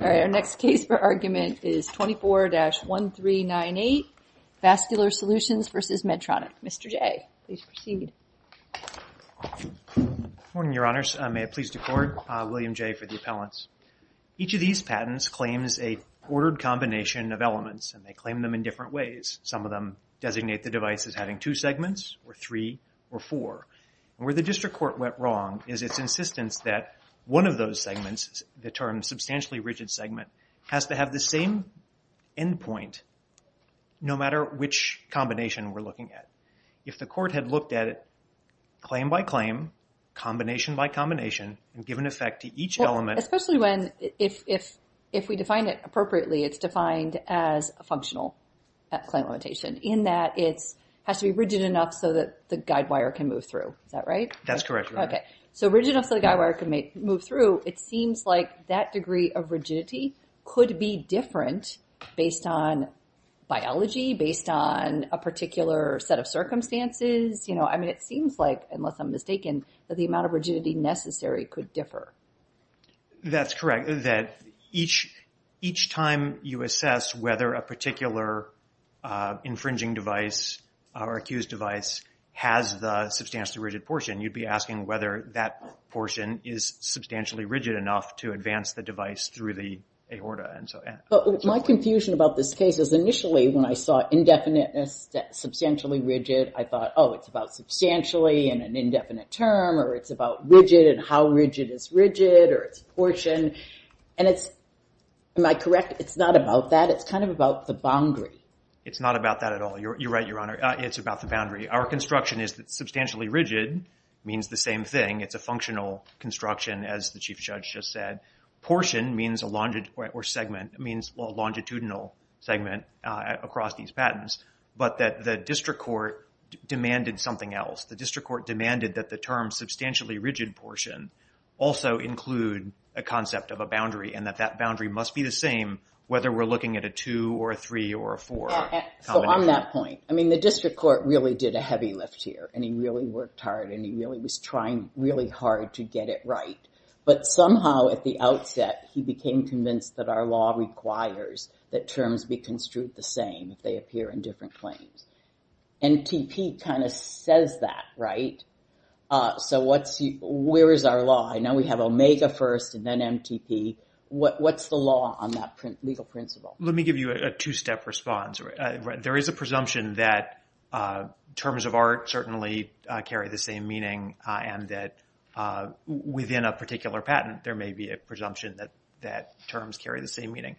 Our next case for argument is 24-1398, Vascular Solutions v. Medtronic. Mr. Jay, please proceed. Morning, Your Honors. May I please decord? William Jay for the appellants. Each of these patents claims a ordered combination of elements. They claim them in different ways. Some of them designate the device as having two segments or three or four. Where the district court went wrong is its insistence that one of those segments, the term substantially rigid segment, has to have the same endpoint no matter which combination we're looking at. If the court had looked at it claim by claim, combination by combination, and given effect to each element... Especially when, if we define it appropriately, it's defined as a functional claim limitation in that it has to be rigid enough so that the guidewire can move through. Is that right? That's correct. Okay. So rigid enough so the guidewire can move through, it seems like that degree of rigidity could be different based on biology, based on a particular set of circumstances. I mean, it seems like, unless I'm mistaken, that the amount of rigidity necessary could differ. That's correct. That each time you assess whether a particular infringing device or accused device has the substantially rigid portion, you'd be asking whether that portion is substantially rigid enough to advance the device through the aorta. My confusion about this case is initially when I saw indefiniteness, substantially rigid, I thought, oh, it's about substantially in an indefinite term, or it's about rigid and how rigid is rigid, or it's portion. Am I correct? It's not about that. It's kind of about the boundary. It's not about that at all. You're right, Your Honor. It's about the boundary. Our construction is that substantially rigid means the same thing. It's a functional construction, as the Chief Judge just said. Portion means a longitudinal segment across these patents. But that the district court demanded something else. The district court demanded that the term substantially rigid portion also include a concept of a boundary, and that that boundary must be the same whether we're looking at a two or a three or a four combination. So on that point, I mean, the district court really did a heavy lift here, and he really worked hard, and he really was trying really hard to get it right. But somehow at the outset, he became convinced that our law requires that terms be construed the same if they appear in different claims. NTP kind of says that, right? So where is our law? I know we have Omega first and then NTP. What's the law on that legal principle? Let me give you a two-step response. There is a presumption that terms of art certainly carry the same meaning, and that within a particular patent, there may be a presumption that terms carry the same meaning.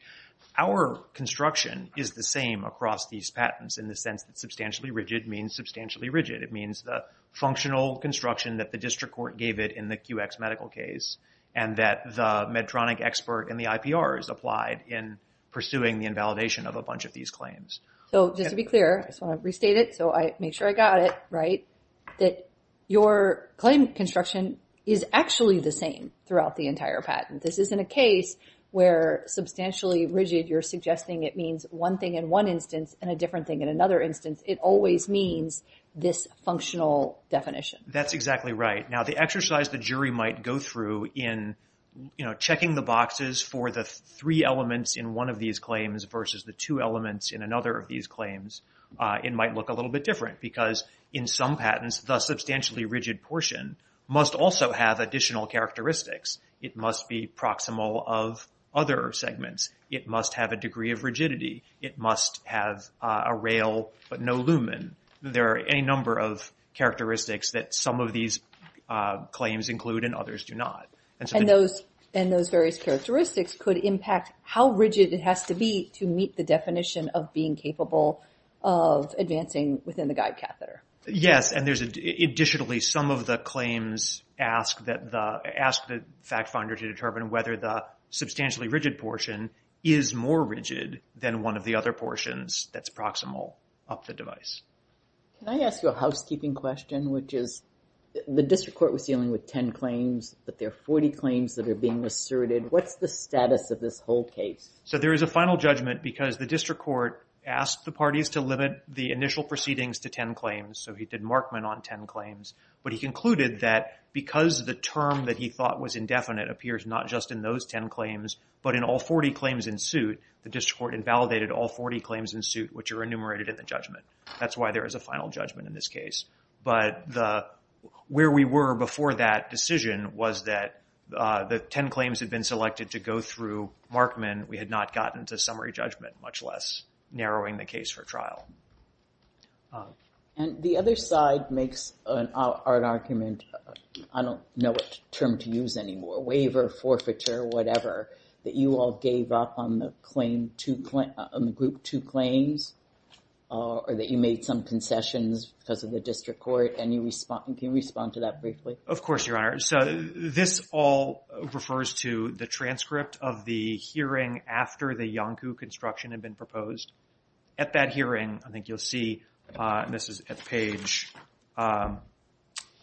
Our construction is the same across these patents in the sense that substantially rigid means substantially rigid. It means the functional construction that the district court gave it in the QX medical case, and that the Medtronic expert in the IPRs applied in pursuing the invalidation of a bunch of these claims. So just to be clear, I just want to restate it, so I make sure I got it right, that your claim construction is actually the same throughout the entire patent. This isn't a case where substantially rigid, you're suggesting it means one thing in one instance and a different thing in another instance. It always means this functional definition. That's exactly right. Now, the exercise the jury might go through in, you know, it might look a little bit different because in some patents, the substantially rigid portion must also have additional characteristics. It must be proximal of other segments. It must have a degree of rigidity. It must have a rail, but no lumen. There are any number of characteristics that some of these claims include and others do not. And those various characteristics could impact how rigid it has to be to meet the definition of being capable of advancing within the guide catheter. Yes, and additionally, some of the claims ask the fact finder to determine whether the substantially rigid portion is more rigid than one of the other portions that's proximal of the device. Can I ask you a housekeeping question, which is the district court was dealing with 10 claims, but there are 40 claims that are being asserted. What's the status of this whole case? So there is a final judgment because the district court asked the parties to limit the initial proceedings to 10 claims. So he did Markman on 10 claims, but he concluded that because the term that he thought was indefinite appears not just in those 10 claims, but in all 40 claims in suit, the district court invalidated all 40 claims in suit, which are enumerated in the judgment. That's why there is a final judgment in this case. But where we were before that decision was that the 10 claims had been selected to go through Markman. We had not gotten to summary judgment, much less narrowing the case for trial. And the other side makes an argument, I don't know what term to use anymore, waiver, forfeiture, whatever, that you all gave up on the group two claims, or that you made some concessions because of the district court. Can you respond to that briefly? Of course, Your Honor. So this all refers to the transcript of the hearing after the Yonkou construction had been proposed. At that hearing, I think you'll see, and this is at page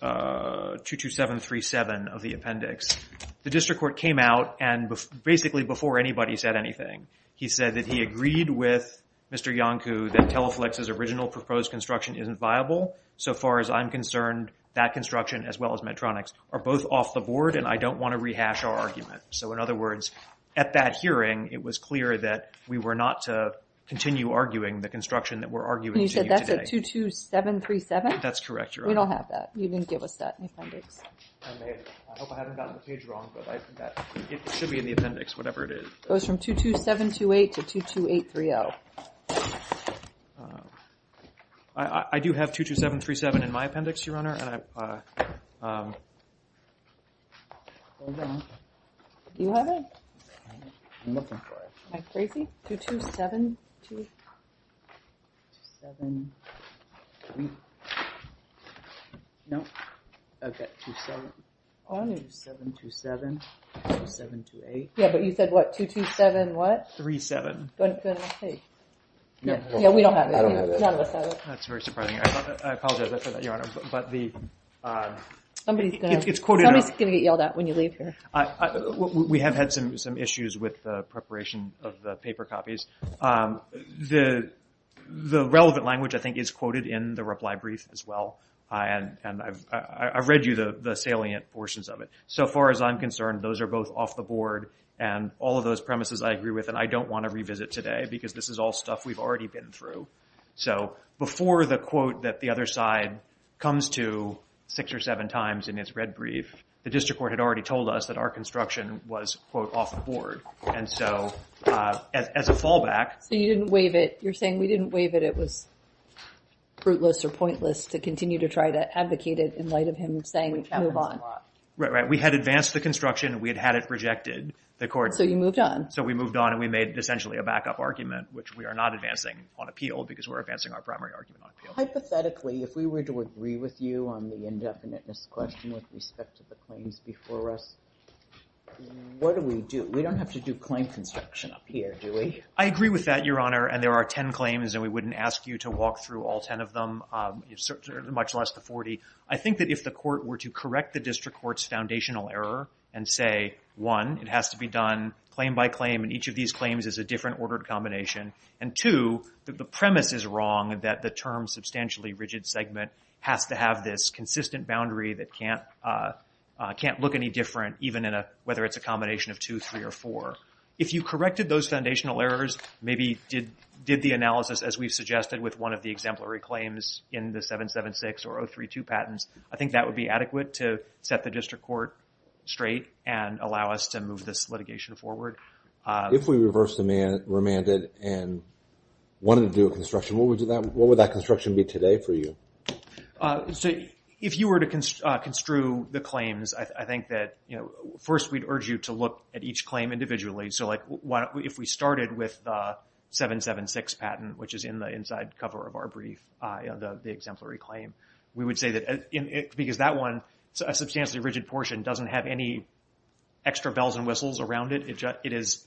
22737 of the appendix, the district court came out and basically before anybody said anything, he said that he agreed with Mr. Yonkou that Teleflex's original proposed construction isn't viable. So far as I'm concerned, that construction as well as Medtronic's are both off the board, and I don't want to rehash our argument. So in other words, at that hearing, it was clear that we were not to continue arguing the construction that we're arguing today. You said that's at 22737? That's correct, Your Honor. We don't have that. You didn't give us that in the appendix. I hope I haven't gotten the page wrong, but it should be in the appendix, whatever it is. It goes from 22728 to 22830. I do have 22737 in my appendix, Your Honor. Yeah, but you said what? 227 what? Three seven. Yeah, we don't have that. None of us have it. That's very surprising. I apologize for that, Your Honor. Somebody's going to get yelled at when you leave here. We have had some issues with the preparation of the paper copies. The relevant language, I think, is quoted in the reply brief as well, and I've read you the salient portions of it. So far as I'm concerned, those are both off the board, and all of those premises I agree with, and I don't want to revisit today, because this is all stuff we've already been through. So before the quote that the other side comes to six or seven times in its red brief, the district court had already told us that our construction was, quote, off the board. And so as a fallback... So you didn't waive it. You're saying we didn't waive it. It was fruitless or pointless to continue to try to advocate it in light of him saying move on. Right, right. We had advanced the construction. We had had it rejected. So you moved on. So we moved on, and we made essentially a backup argument, which we are not advancing on appeal, because we're advancing our primary argument on appeal. Hypothetically, if we were to agree with you on the indefiniteness question with respect to the claims before us, what do we do? We don't have to do claim construction up here, do we? I agree with that, Your Honor, and there are 10 claims, and we wouldn't ask you to walk through all 10 of them, much less the 40. I think that if the court were to correct the district court's foundational error and say, one, it has to be done claim by claim, and each of these claims is a different ordered combination, and two, the premise is wrong that the term substantially rigid segment has to have this consistent boundary that can't look any different, even whether it's a combination of two, three, or four. If you corrected those foundational errors, maybe did the analysis as we've suggested with one of the exemplary claims in the 776 or 032 patents, I think that would be adequate to set the district court straight and allow us to move this litigation forward. If we reverse remanded and wanted to do a construction, what would that construction be today for you? If you were to construe the claims, I think that first we'd urge you to look at each claim individually. If we started with the 776 patent, which is in the inside cover of our brief, the exemplary claim, we would say that because that one, a substantially rigid portion, doesn't have any extra bells and whistles around it. It is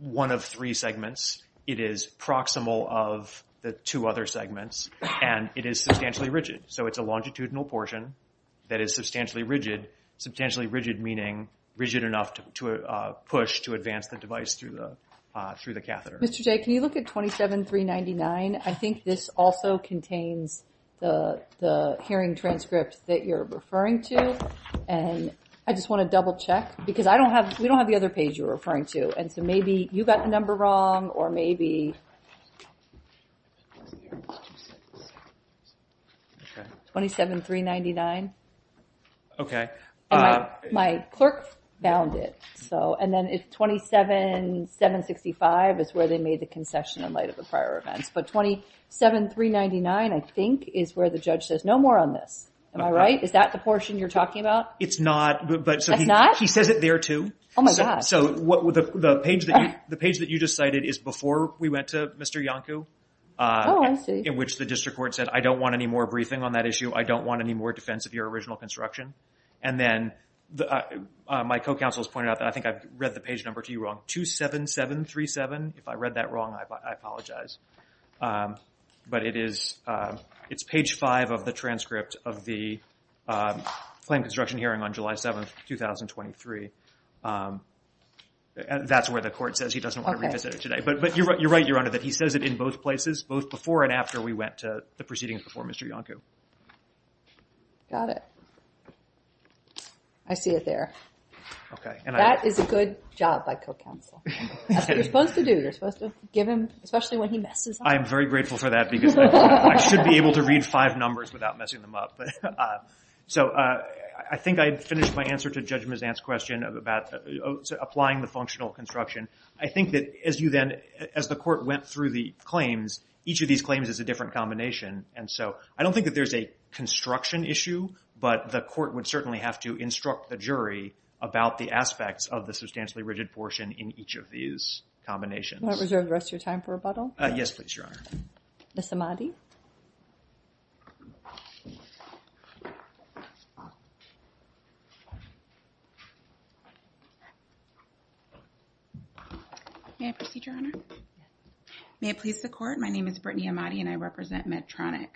one of three segments. It is proximal of the two other segments, and it is substantially rigid. It's a longitudinal portion that is substantially rigid, meaning rigid enough to push to advance the device through the catheter. Mr. Jay, can you look at 27399? I think this also contains the hearing transcript that you're referring to. I just want to double check, because we don't have the other page you're referring to. Maybe you got the number wrong, or maybe... 27399? Okay. My clerk found it. And then 27765 is where they made the concession in light of the prior events. But 27399, I think, is where the judge says, no more on this. Am I right? Is that the portion you're talking about? It's not. It's not? He says it there, too. Oh, my God. The page that you just cited is before we went to Mr. Iancu. Oh, I see. In which the district court said, I don't want any more briefing on that issue. I don't want any more defense of your original construction. And then my co-counsel has pointed out that I think I read the page number to you wrong. 27737? If I read that wrong, I apologize. But it's page 5 of the transcript of the claim construction hearing on July 7, 2023. That's where the court says he doesn't want to revisit it today. But you're right, Your Honor, that he says it in both places, both before and after we went to the proceedings before Mr. Iancu. Got it. I see it there. That is a good job by co-counsel. That's what you're supposed to do. You're supposed to give him, especially when he messes up. I'm very grateful for that because I should be able to read five numbers without messing them up. So I think I finished my answer to Judge Mazant's question about applying the functional construction. I think that as the court went through the claims, each of these claims is a different combination. And so I don't think that there's a construction issue. But the court would certainly have to instruct the jury about the aspects of the substantially rigid portion in each of these combinations. Can I reserve the rest of your time for rebuttal? Yes, please, Your Honor. Ms. Ahmadi. May I proceed, Your Honor? May it please the court, my name is Brittany Ahmadi and I represent Medtronic.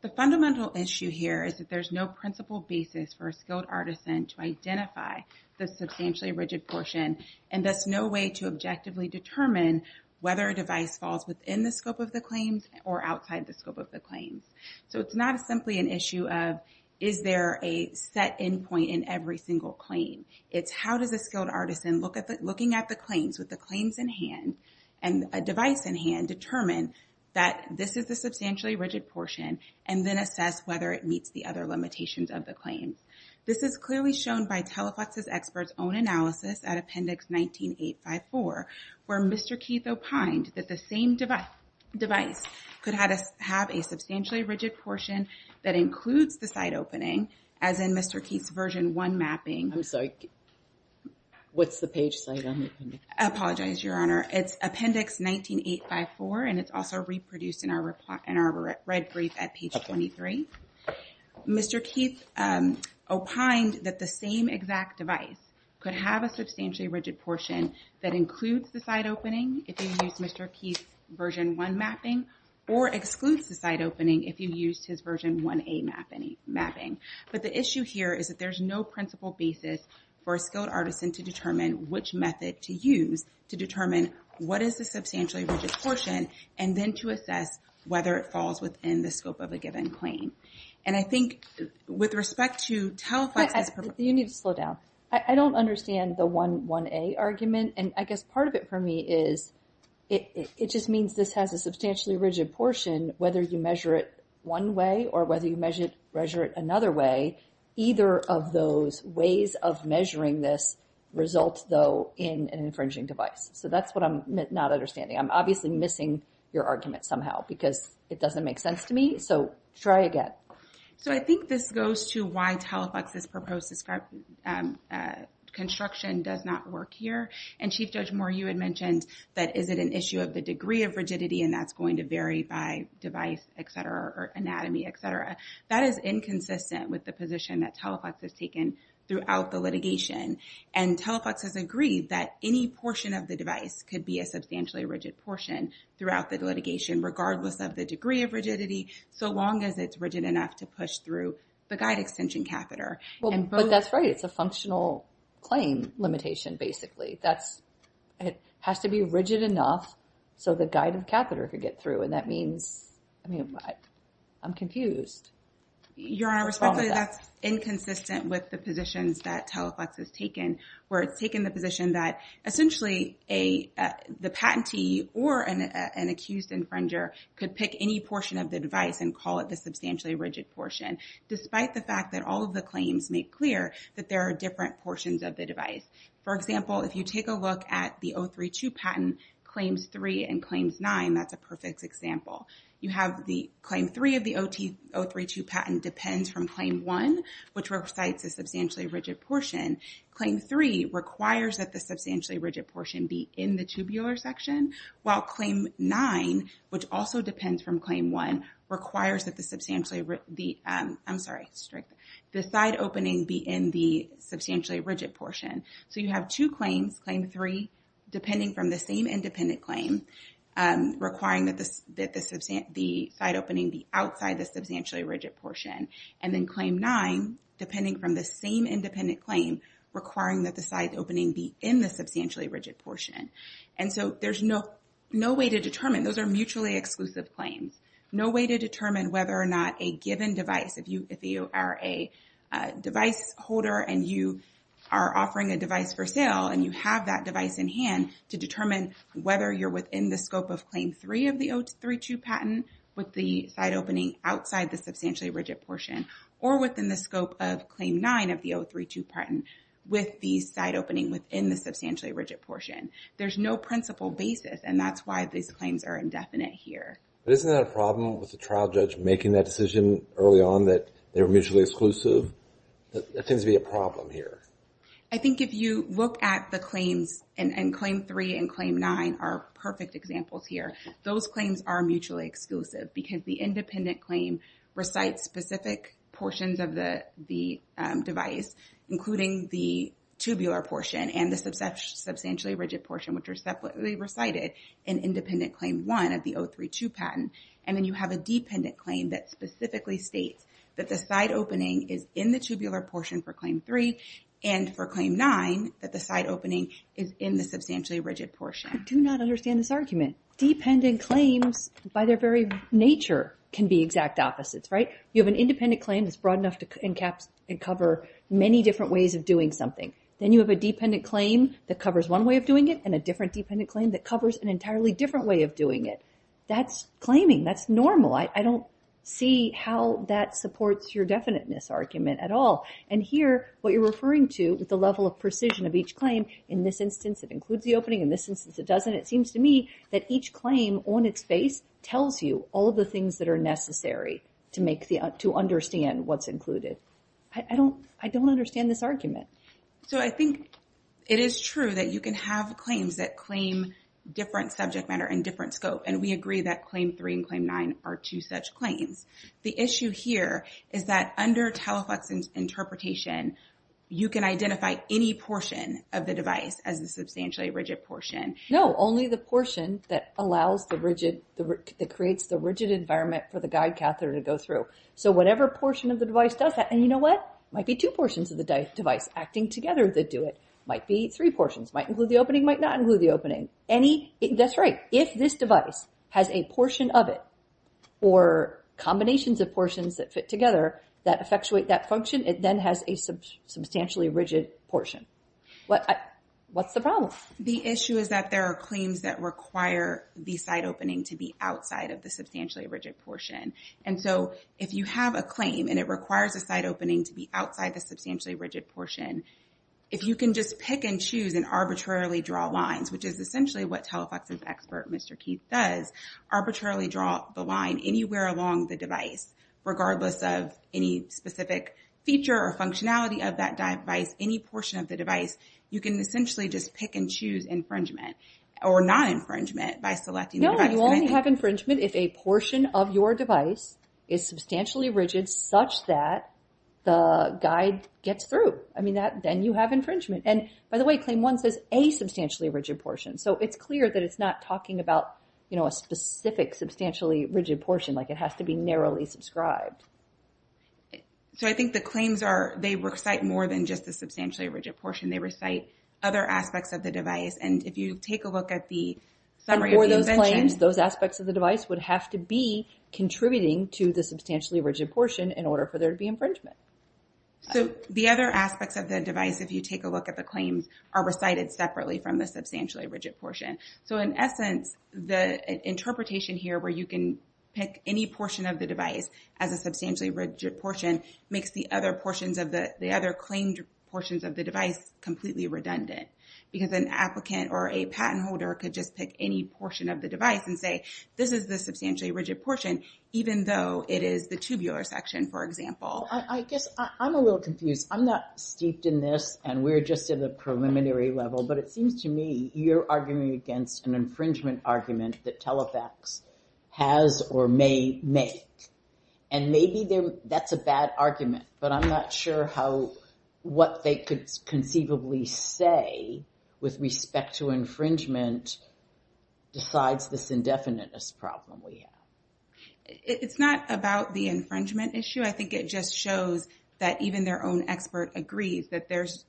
The fundamental issue here is that there's no principal basis for a skilled artisan to identify the substantially rigid portion and thus no way to objectively determine whether a device falls within the scope of the claims or outside the scope of the claims. So it's not simply an issue of is there a set end point in every single claim. It's how does a skilled artisan, looking at the claims with the claims in hand and a device in hand, determine that this is the substantially rigid portion and then assess whether it meets the other limitations of the claims. This is clearly shown by Teleflex's expert's own analysis at Appendix 19854 where Mr. Keith opined that the same device could have a substantially rigid portion that includes the site opening as in Mr. Keith's version 1 mapping. I'm sorry, what's the page site on the appendix? I apologize, Your Honor. It's Appendix 19854 and it's also reproduced in our red brief at page 23. Mr. Keith opined that the same exact device could have a substantially rigid portion that includes the site opening if you use Mr. Keith's version 1 mapping or excludes the site opening if you used his version 1A mapping. But the issue here is that there's no principal basis for a skilled artisan to determine which method to use to determine what is the substantially rigid portion and then to assess whether it falls within the scope of a given claim. And I think with respect to Teleflex... You need to slow down. I don't understand the 1A argument. And I guess part of it for me is it just means this has a substantially rigid portion whether you measure it one way or whether you measure it another way. Either of those ways of measuring this results, though, in an infringing device. So that's what I'm not understanding. I'm obviously missing your argument somehow because it doesn't make sense to me. So try again. So I think this goes to why Teleflex's proposed construction does not work here. And Chief Judge Moore, you had mentioned that is it an issue of the degree of rigidity and that's going to vary by device, et cetera, or anatomy, et cetera. That is inconsistent with the position that Teleflex has taken throughout the litigation. And Teleflex has agreed that any portion of the device could be a substantially rigid portion throughout the litigation regardless of the degree of rigidity so long as it's rigid enough to push through the guide extension catheter. But that's right. It's a functional claim limitation, basically. It has to be rigid enough so the guide catheter could get through. And that means I'm confused. Your Honor, respectfully, that's inconsistent with the positions that Teleflex has taken where it's taken the position that essentially the patentee or an accused infringer could pick any portion of the device and call it the substantially rigid portion despite the fact that all of the claims make clear that there are different portions of the device. For example, if you take a look at the 032 patent claims 3 and claims 9, that's a perfect example. You have the claim 3 of the 032 patent depends from claim 1, which recites the substantially rigid portion. Claim 3 requires that the substantially rigid portion be in the tubular section, while claim 9, which also depends from claim 1, requires that the substantially rigid portion be in the substantially rigid portion. So you have two claims, claim 3, depending from the same independent claim, requiring that the side opening be outside the substantially rigid portion. And then claim 9, depending from the same independent claim, requiring that the side opening be in the substantially rigid portion. And so there's no way to determine. Those are mutually exclusive claims. No way to determine whether or not a given device, if you are a device holder and you are offering a device for sale and you have that device in hand to determine whether you're within the scope of claim 3 of the 032 patent with the side opening outside the substantially rigid portion or within the scope of claim 9 of the 032 patent with the side opening within the substantially rigid portion. There's no principal basis, and that's why these claims are indefinite here. But isn't that a problem with the trial judge making that decision early on that they were mutually exclusive? That tends to be a problem here. I think if you look at the claims, and claim 3 and claim 9 are perfect examples here. Those claims are mutually exclusive because the independent claim recites specific portions of the device, including the tubular portion and the substantially rigid portion, which are separately recited in independent claim 1 of the 032 patent. And then you have a dependent claim that specifically states that the side opening is in the tubular portion for claim 3 and for claim 9 that the side opening is in the substantially rigid portion. I do not understand this argument. Dependent claims, by their very nature, can be exact opposites, right? You have an independent claim that's broad enough to cover many different ways of doing something. Then you have a dependent claim that covers one way of doing it, and a different dependent claim that covers an entirely different way of doing it. That's claiming. That's normal. I don't see how that supports your definiteness argument at all. And here, what you're referring to with the level of precision of each claim, in this instance it includes the opening, in this instance it doesn't, it seems to me that each claim on its base tells you all the things that are necessary to understand what's included. I don't understand this argument. So I think it is true that you can have claims that claim different subject matter and different scope. And we agree that claim 3 and claim 9 are two such claims. The issue here is that under telephox interpretation, you can identify any portion of the device as the substantially rigid portion. No, only the portion that allows the rigid, that creates the rigid environment for the guide catheter to go through. So whatever portion of the device does that, and you know what? Might be two portions of the device acting together that do it. Might be three portions. Might include the opening, might not include the opening. That's right. If this device has a portion of it or combinations of portions that fit together that effectuate that function, it then has a substantially rigid portion. What's the problem? The issue is that there are claims that require the side opening to be outside of the substantially rigid portion. And so if you have a claim and it requires a side opening to be outside the substantially rigid portion, if you can just pick and choose and arbitrarily draw lines, which is essentially what telephox's expert, Mr. Keith, does, arbitrarily draw the line anywhere along the device, regardless of any specific feature or functionality of that device, any portion of the device, you can essentially just pick and choose infringement or non-infringement by selecting the device. You only have infringement if a portion of your device is substantially rigid such that the guide gets through. I mean, then you have infringement. And by the way, Claim 1 says a substantially rigid portion. So it's clear that it's not talking about, you know, a specific substantially rigid portion. Like it has to be narrowly subscribed. So I think the claims are they recite more than just the substantially rigid portion. They recite other aspects of the device. And if you take a look at the summary of the invention. Those aspects of the device would have to be contributing to the substantially rigid portion in order for there to be infringement. So the other aspects of the device, if you take a look at the claims, are recited separately from the substantially rigid portion. So in essence, the interpretation here where you can pick any portion of the device as a substantially rigid portion makes the other portions of the other claimed portions of the device completely redundant because an applicant or a patent holder could just pick any portion of the device and say, this is the substantially rigid portion, even though it is the tubular section, for example. I guess I'm a little confused. I'm not steeped in this, and we're just at the preliminary level. But it seems to me you're arguing against an infringement argument that Telefax has or may make. And maybe that's a bad argument. But I'm not sure how what they could conceivably say with respect to infringement decides this indefiniteness problem we have. It's not about the infringement issue. I think it just shows that even their own expert agrees that there's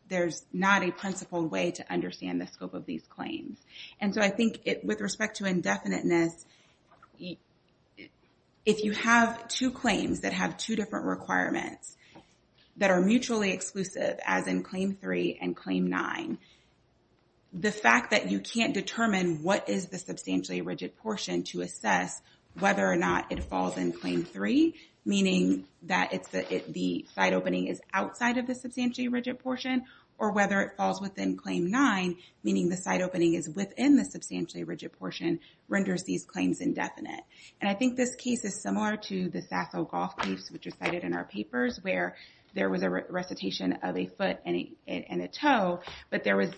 not a principled way to understand the scope of these claims. And so I think with respect to indefiniteness, if you have two claims that have two different requirements that are mutually exclusive, as in Claim 3 and Claim 9, the fact that you can't determine what is the substantially rigid portion to assess whether or not it falls in Claim 3, meaning that the side opening is outside of the substantially rigid portion, or whether it falls within Claim 9, meaning the side opening is within the substantially rigid portion, renders these claims indefinite. And I think this case is similar to the Sasso golf case, which was cited in our papers, where there was a recitation of a foot and a toe, but there was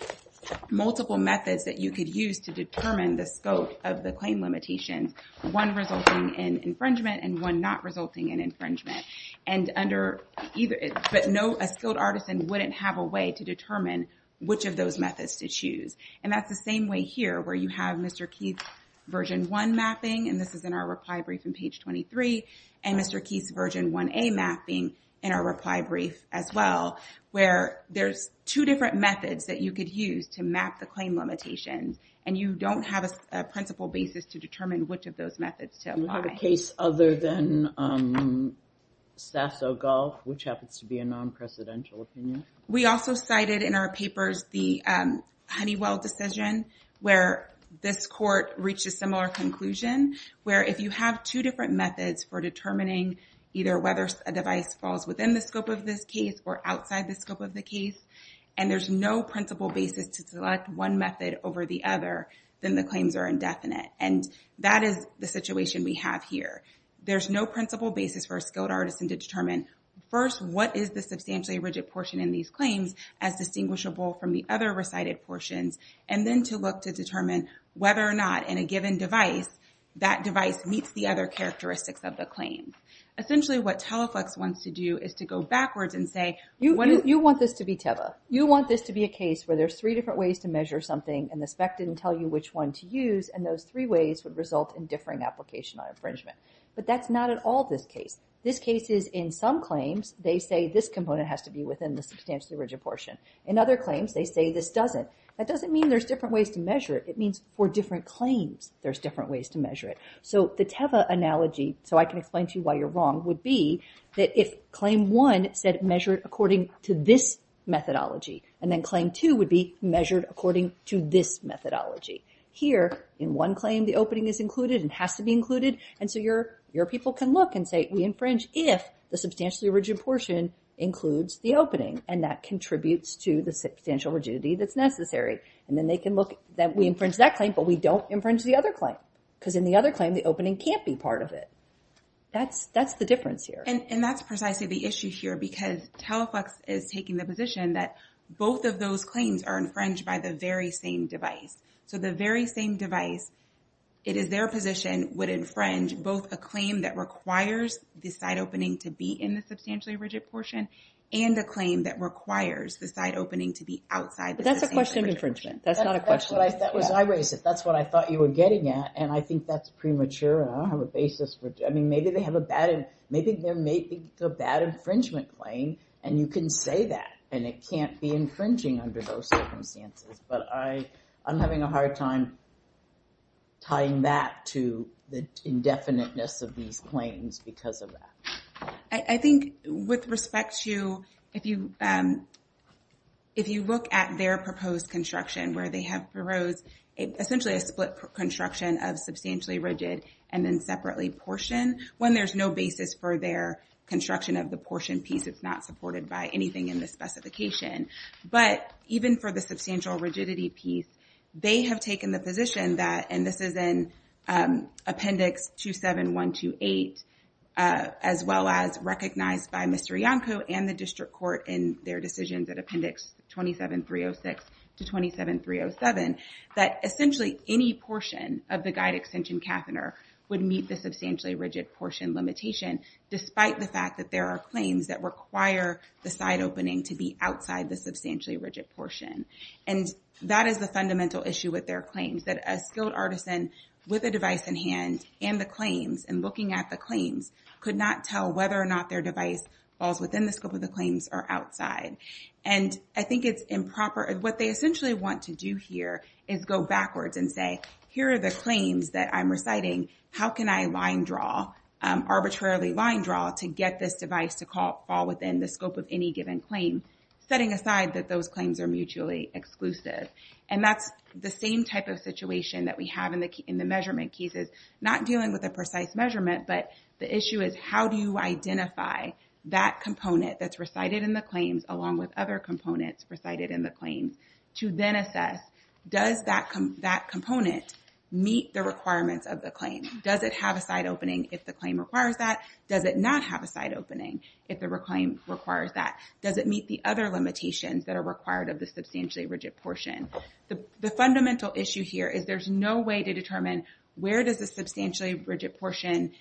multiple methods that you could use to determine the scope of the claim limitations, one resulting in infringement and one not resulting in infringement. But a skilled artisan wouldn't have a way to determine which of those methods to choose. And that's the same way here, where you have Mr. Keith's Version 1 mapping, and this is in our reply brief on page 23, and Mr. Keith's Version 1A mapping in our reply brief as well, where there's two different methods that you could use to map the claim limitations, and you don't have a principal basis to determine which of those methods to apply. We have a case other than Sasso golf, which happens to be a non-presidential opinion. We also cited in our papers the Honeywell decision, where this court reached a similar conclusion, where if you have two different methods for determining either whether a device falls within the scope of this case or outside the scope of the case, and there's no principal basis to select one method over the other, then the claims are indefinite. And that is the situation we have here. There's no principal basis for a skilled artisan to determine, first, what is the substantially rigid portion in these claims as distinguishable from the other recited portions, and then to look to determine whether or not, in a given device, that device meets the other characteristics of the claim. Essentially, what Teleflex wants to do is to go backwards and say, you want this to be a case where there's three different ways to measure something, and the spec didn't tell you which one to use, and those three ways would result in differing application on infringement. But that's not at all this case. This case is in some claims, they say this component has to be within the substantially rigid portion. In other claims, they say this doesn't. That doesn't mean there's different ways to measure it. It means for different claims, there's different ways to measure it. So the Teva analogy, so I can explain to you why you're wrong, would be that if claim one said measure it according to this methodology, and then claim two would be measured according to this methodology. Here, in one claim, the opening is included and has to be included, and so your people can look and say, we infringe if the substantially rigid portion includes the opening, and that contributes to the substantial rigidity that's necessary. And then they can look that we infringe that claim, but we don't infringe the other claim. Because in the other claim, the opening can't be part of it. That's the difference here. And that's precisely the issue here, because Teleflex is taking the position that both of those claims are infringed by the very same device. So the very same device, it is their position, would infringe both a claim that requires the side opening to be in the substantially rigid portion, and a claim that requires the side opening to be outside. But that's a question of infringement. That's not a question. That's what I thought you were getting at, and I think that's premature. I don't have a basis for it. I mean, maybe they have a bad infringement claim, and you can say that, and it can't be infringing under those circumstances. But I'm having a hard time tying that to the indefiniteness of these claims because of that. I think with respect to if you look at their proposed construction, where they have proposed essentially a split construction of substantially rigid and then separately portioned, when there's no basis for their construction of the portion piece, it's not supported by anything in the specification. But even for the substantial rigidity piece, they have taken the position that, and this is in Appendix 27128, as well as recognized by Mr. Iancu and the district court in their decisions at Appendix 27306 to 27307, that essentially any portion of the guide extension catheter would meet the substantially rigid portion limitation, despite the fact that there are claims that require the side opening to be outside the substantially rigid portion. And that is the fundamental issue with their claims, that a skilled artisan with a device in hand and the claims and looking at the claims could not tell whether or not their device falls within the scope of the claims or outside. And I think it's improper. What they essentially want to do here is go backwards and say, here are the claims that I'm reciting. How can I line draw, arbitrarily line draw, to get this device to fall within the scope of any given claim, setting aside that those claims are mutually exclusive? And that's the same type of situation that we have in the measurement cases, not dealing with a precise measurement, but the issue is, how do you identify that component that's recited in the claims along with other components recited in the claims to then assess, does that component meet the requirements of the claim? Does it have a side opening if the claim requires that? Does it not have a side opening if the claim requires that? Does it meet the other limitations that are required of the substantially rigid portion? The fundamental issue here is there's no way to determine where does the substantially rigid portion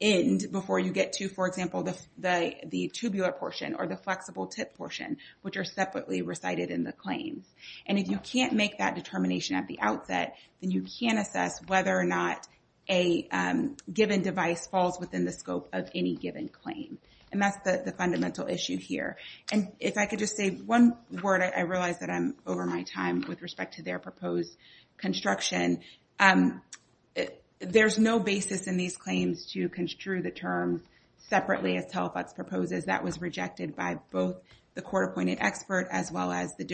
end before you get to, for example, the tubular portion or the flexible tip portion, which are separately recited in the claims. And if you can't make that determination at the outset, then you can't assess whether or not a given device falls within the scope of any given claim. And that's the fundamental issue here. And if I could just say one word, I realize that I'm over my time with respect to their proposed construction. There's no basis in these claims to construe the terms separately, as Telfax proposes. That was rejected by both the court-appointed expert as well as the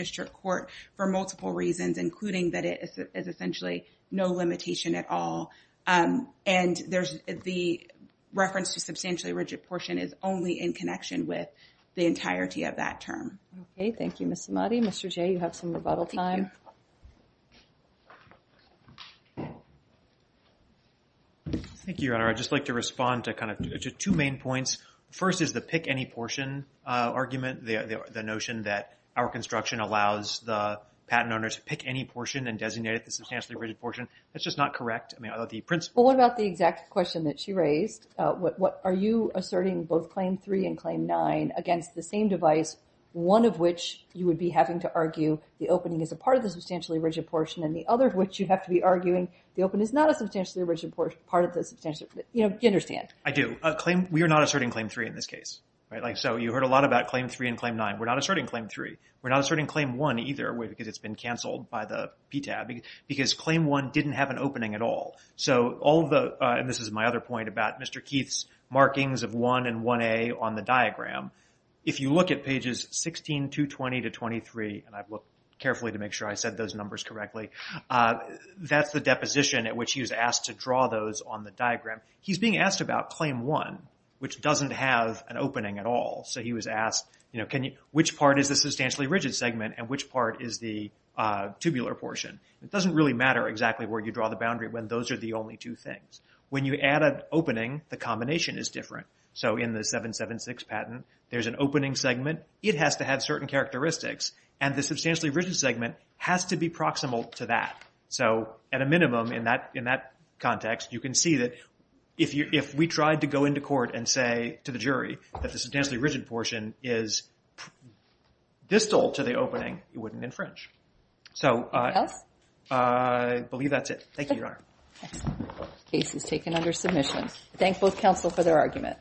And the reference to substantially rigid portion is only in connection with the entirety of that term. Okay, thank you, Ms. Samadi. Mr. J., you have some rebuttal time. Thank you. Thank you, Your Honor. I'd just like to respond to two main points. First is the pick any portion argument, the notion that our construction allows the patent owner to pick any portion and designate it the substantially rigid portion. That's just not correct. What about the exact question that she raised? Are you asserting both Claim 3 and Claim 9 against the same device, one of which you would be having to argue the opening is a part of the substantially rigid portion, and the other of which you have to be arguing the opening is not a substantially rigid portion. You understand. I do. We are not asserting Claim 3 in this case. You heard a lot about Claim 3 and Claim 9. We're not asserting Claim 3. We're not asserting Claim 1 either because it's been canceled by the CTAB, because Claim 1 didn't have an opening at all. This is my other point about Mr. Keith's markings of 1 and 1A on the diagram. If you look at pages 16, 220 to 23, and I've looked carefully to make sure I said those numbers correctly, that's the deposition at which he was asked to draw those on the diagram. He's being asked about Claim 1, which doesn't have an opening at all. He was asked, which part is the substantially rigid segment and which part is the tubular portion. It doesn't really matter exactly where you draw the boundary when those are the only two things. When you add an opening, the combination is different. In the 776 patent, there's an opening segment. It has to have certain characteristics, and the substantially rigid segment has to be proximal to that. At a minimum, in that context, you can see that if we tried to go into court and say to the jury that the substantially rigid portion is distal to the opening, it wouldn't infringe. Anything else? I believe that's it. Thank you, Your Honor. Excellent. Case is taken under submission. Thank both counsel for their argument.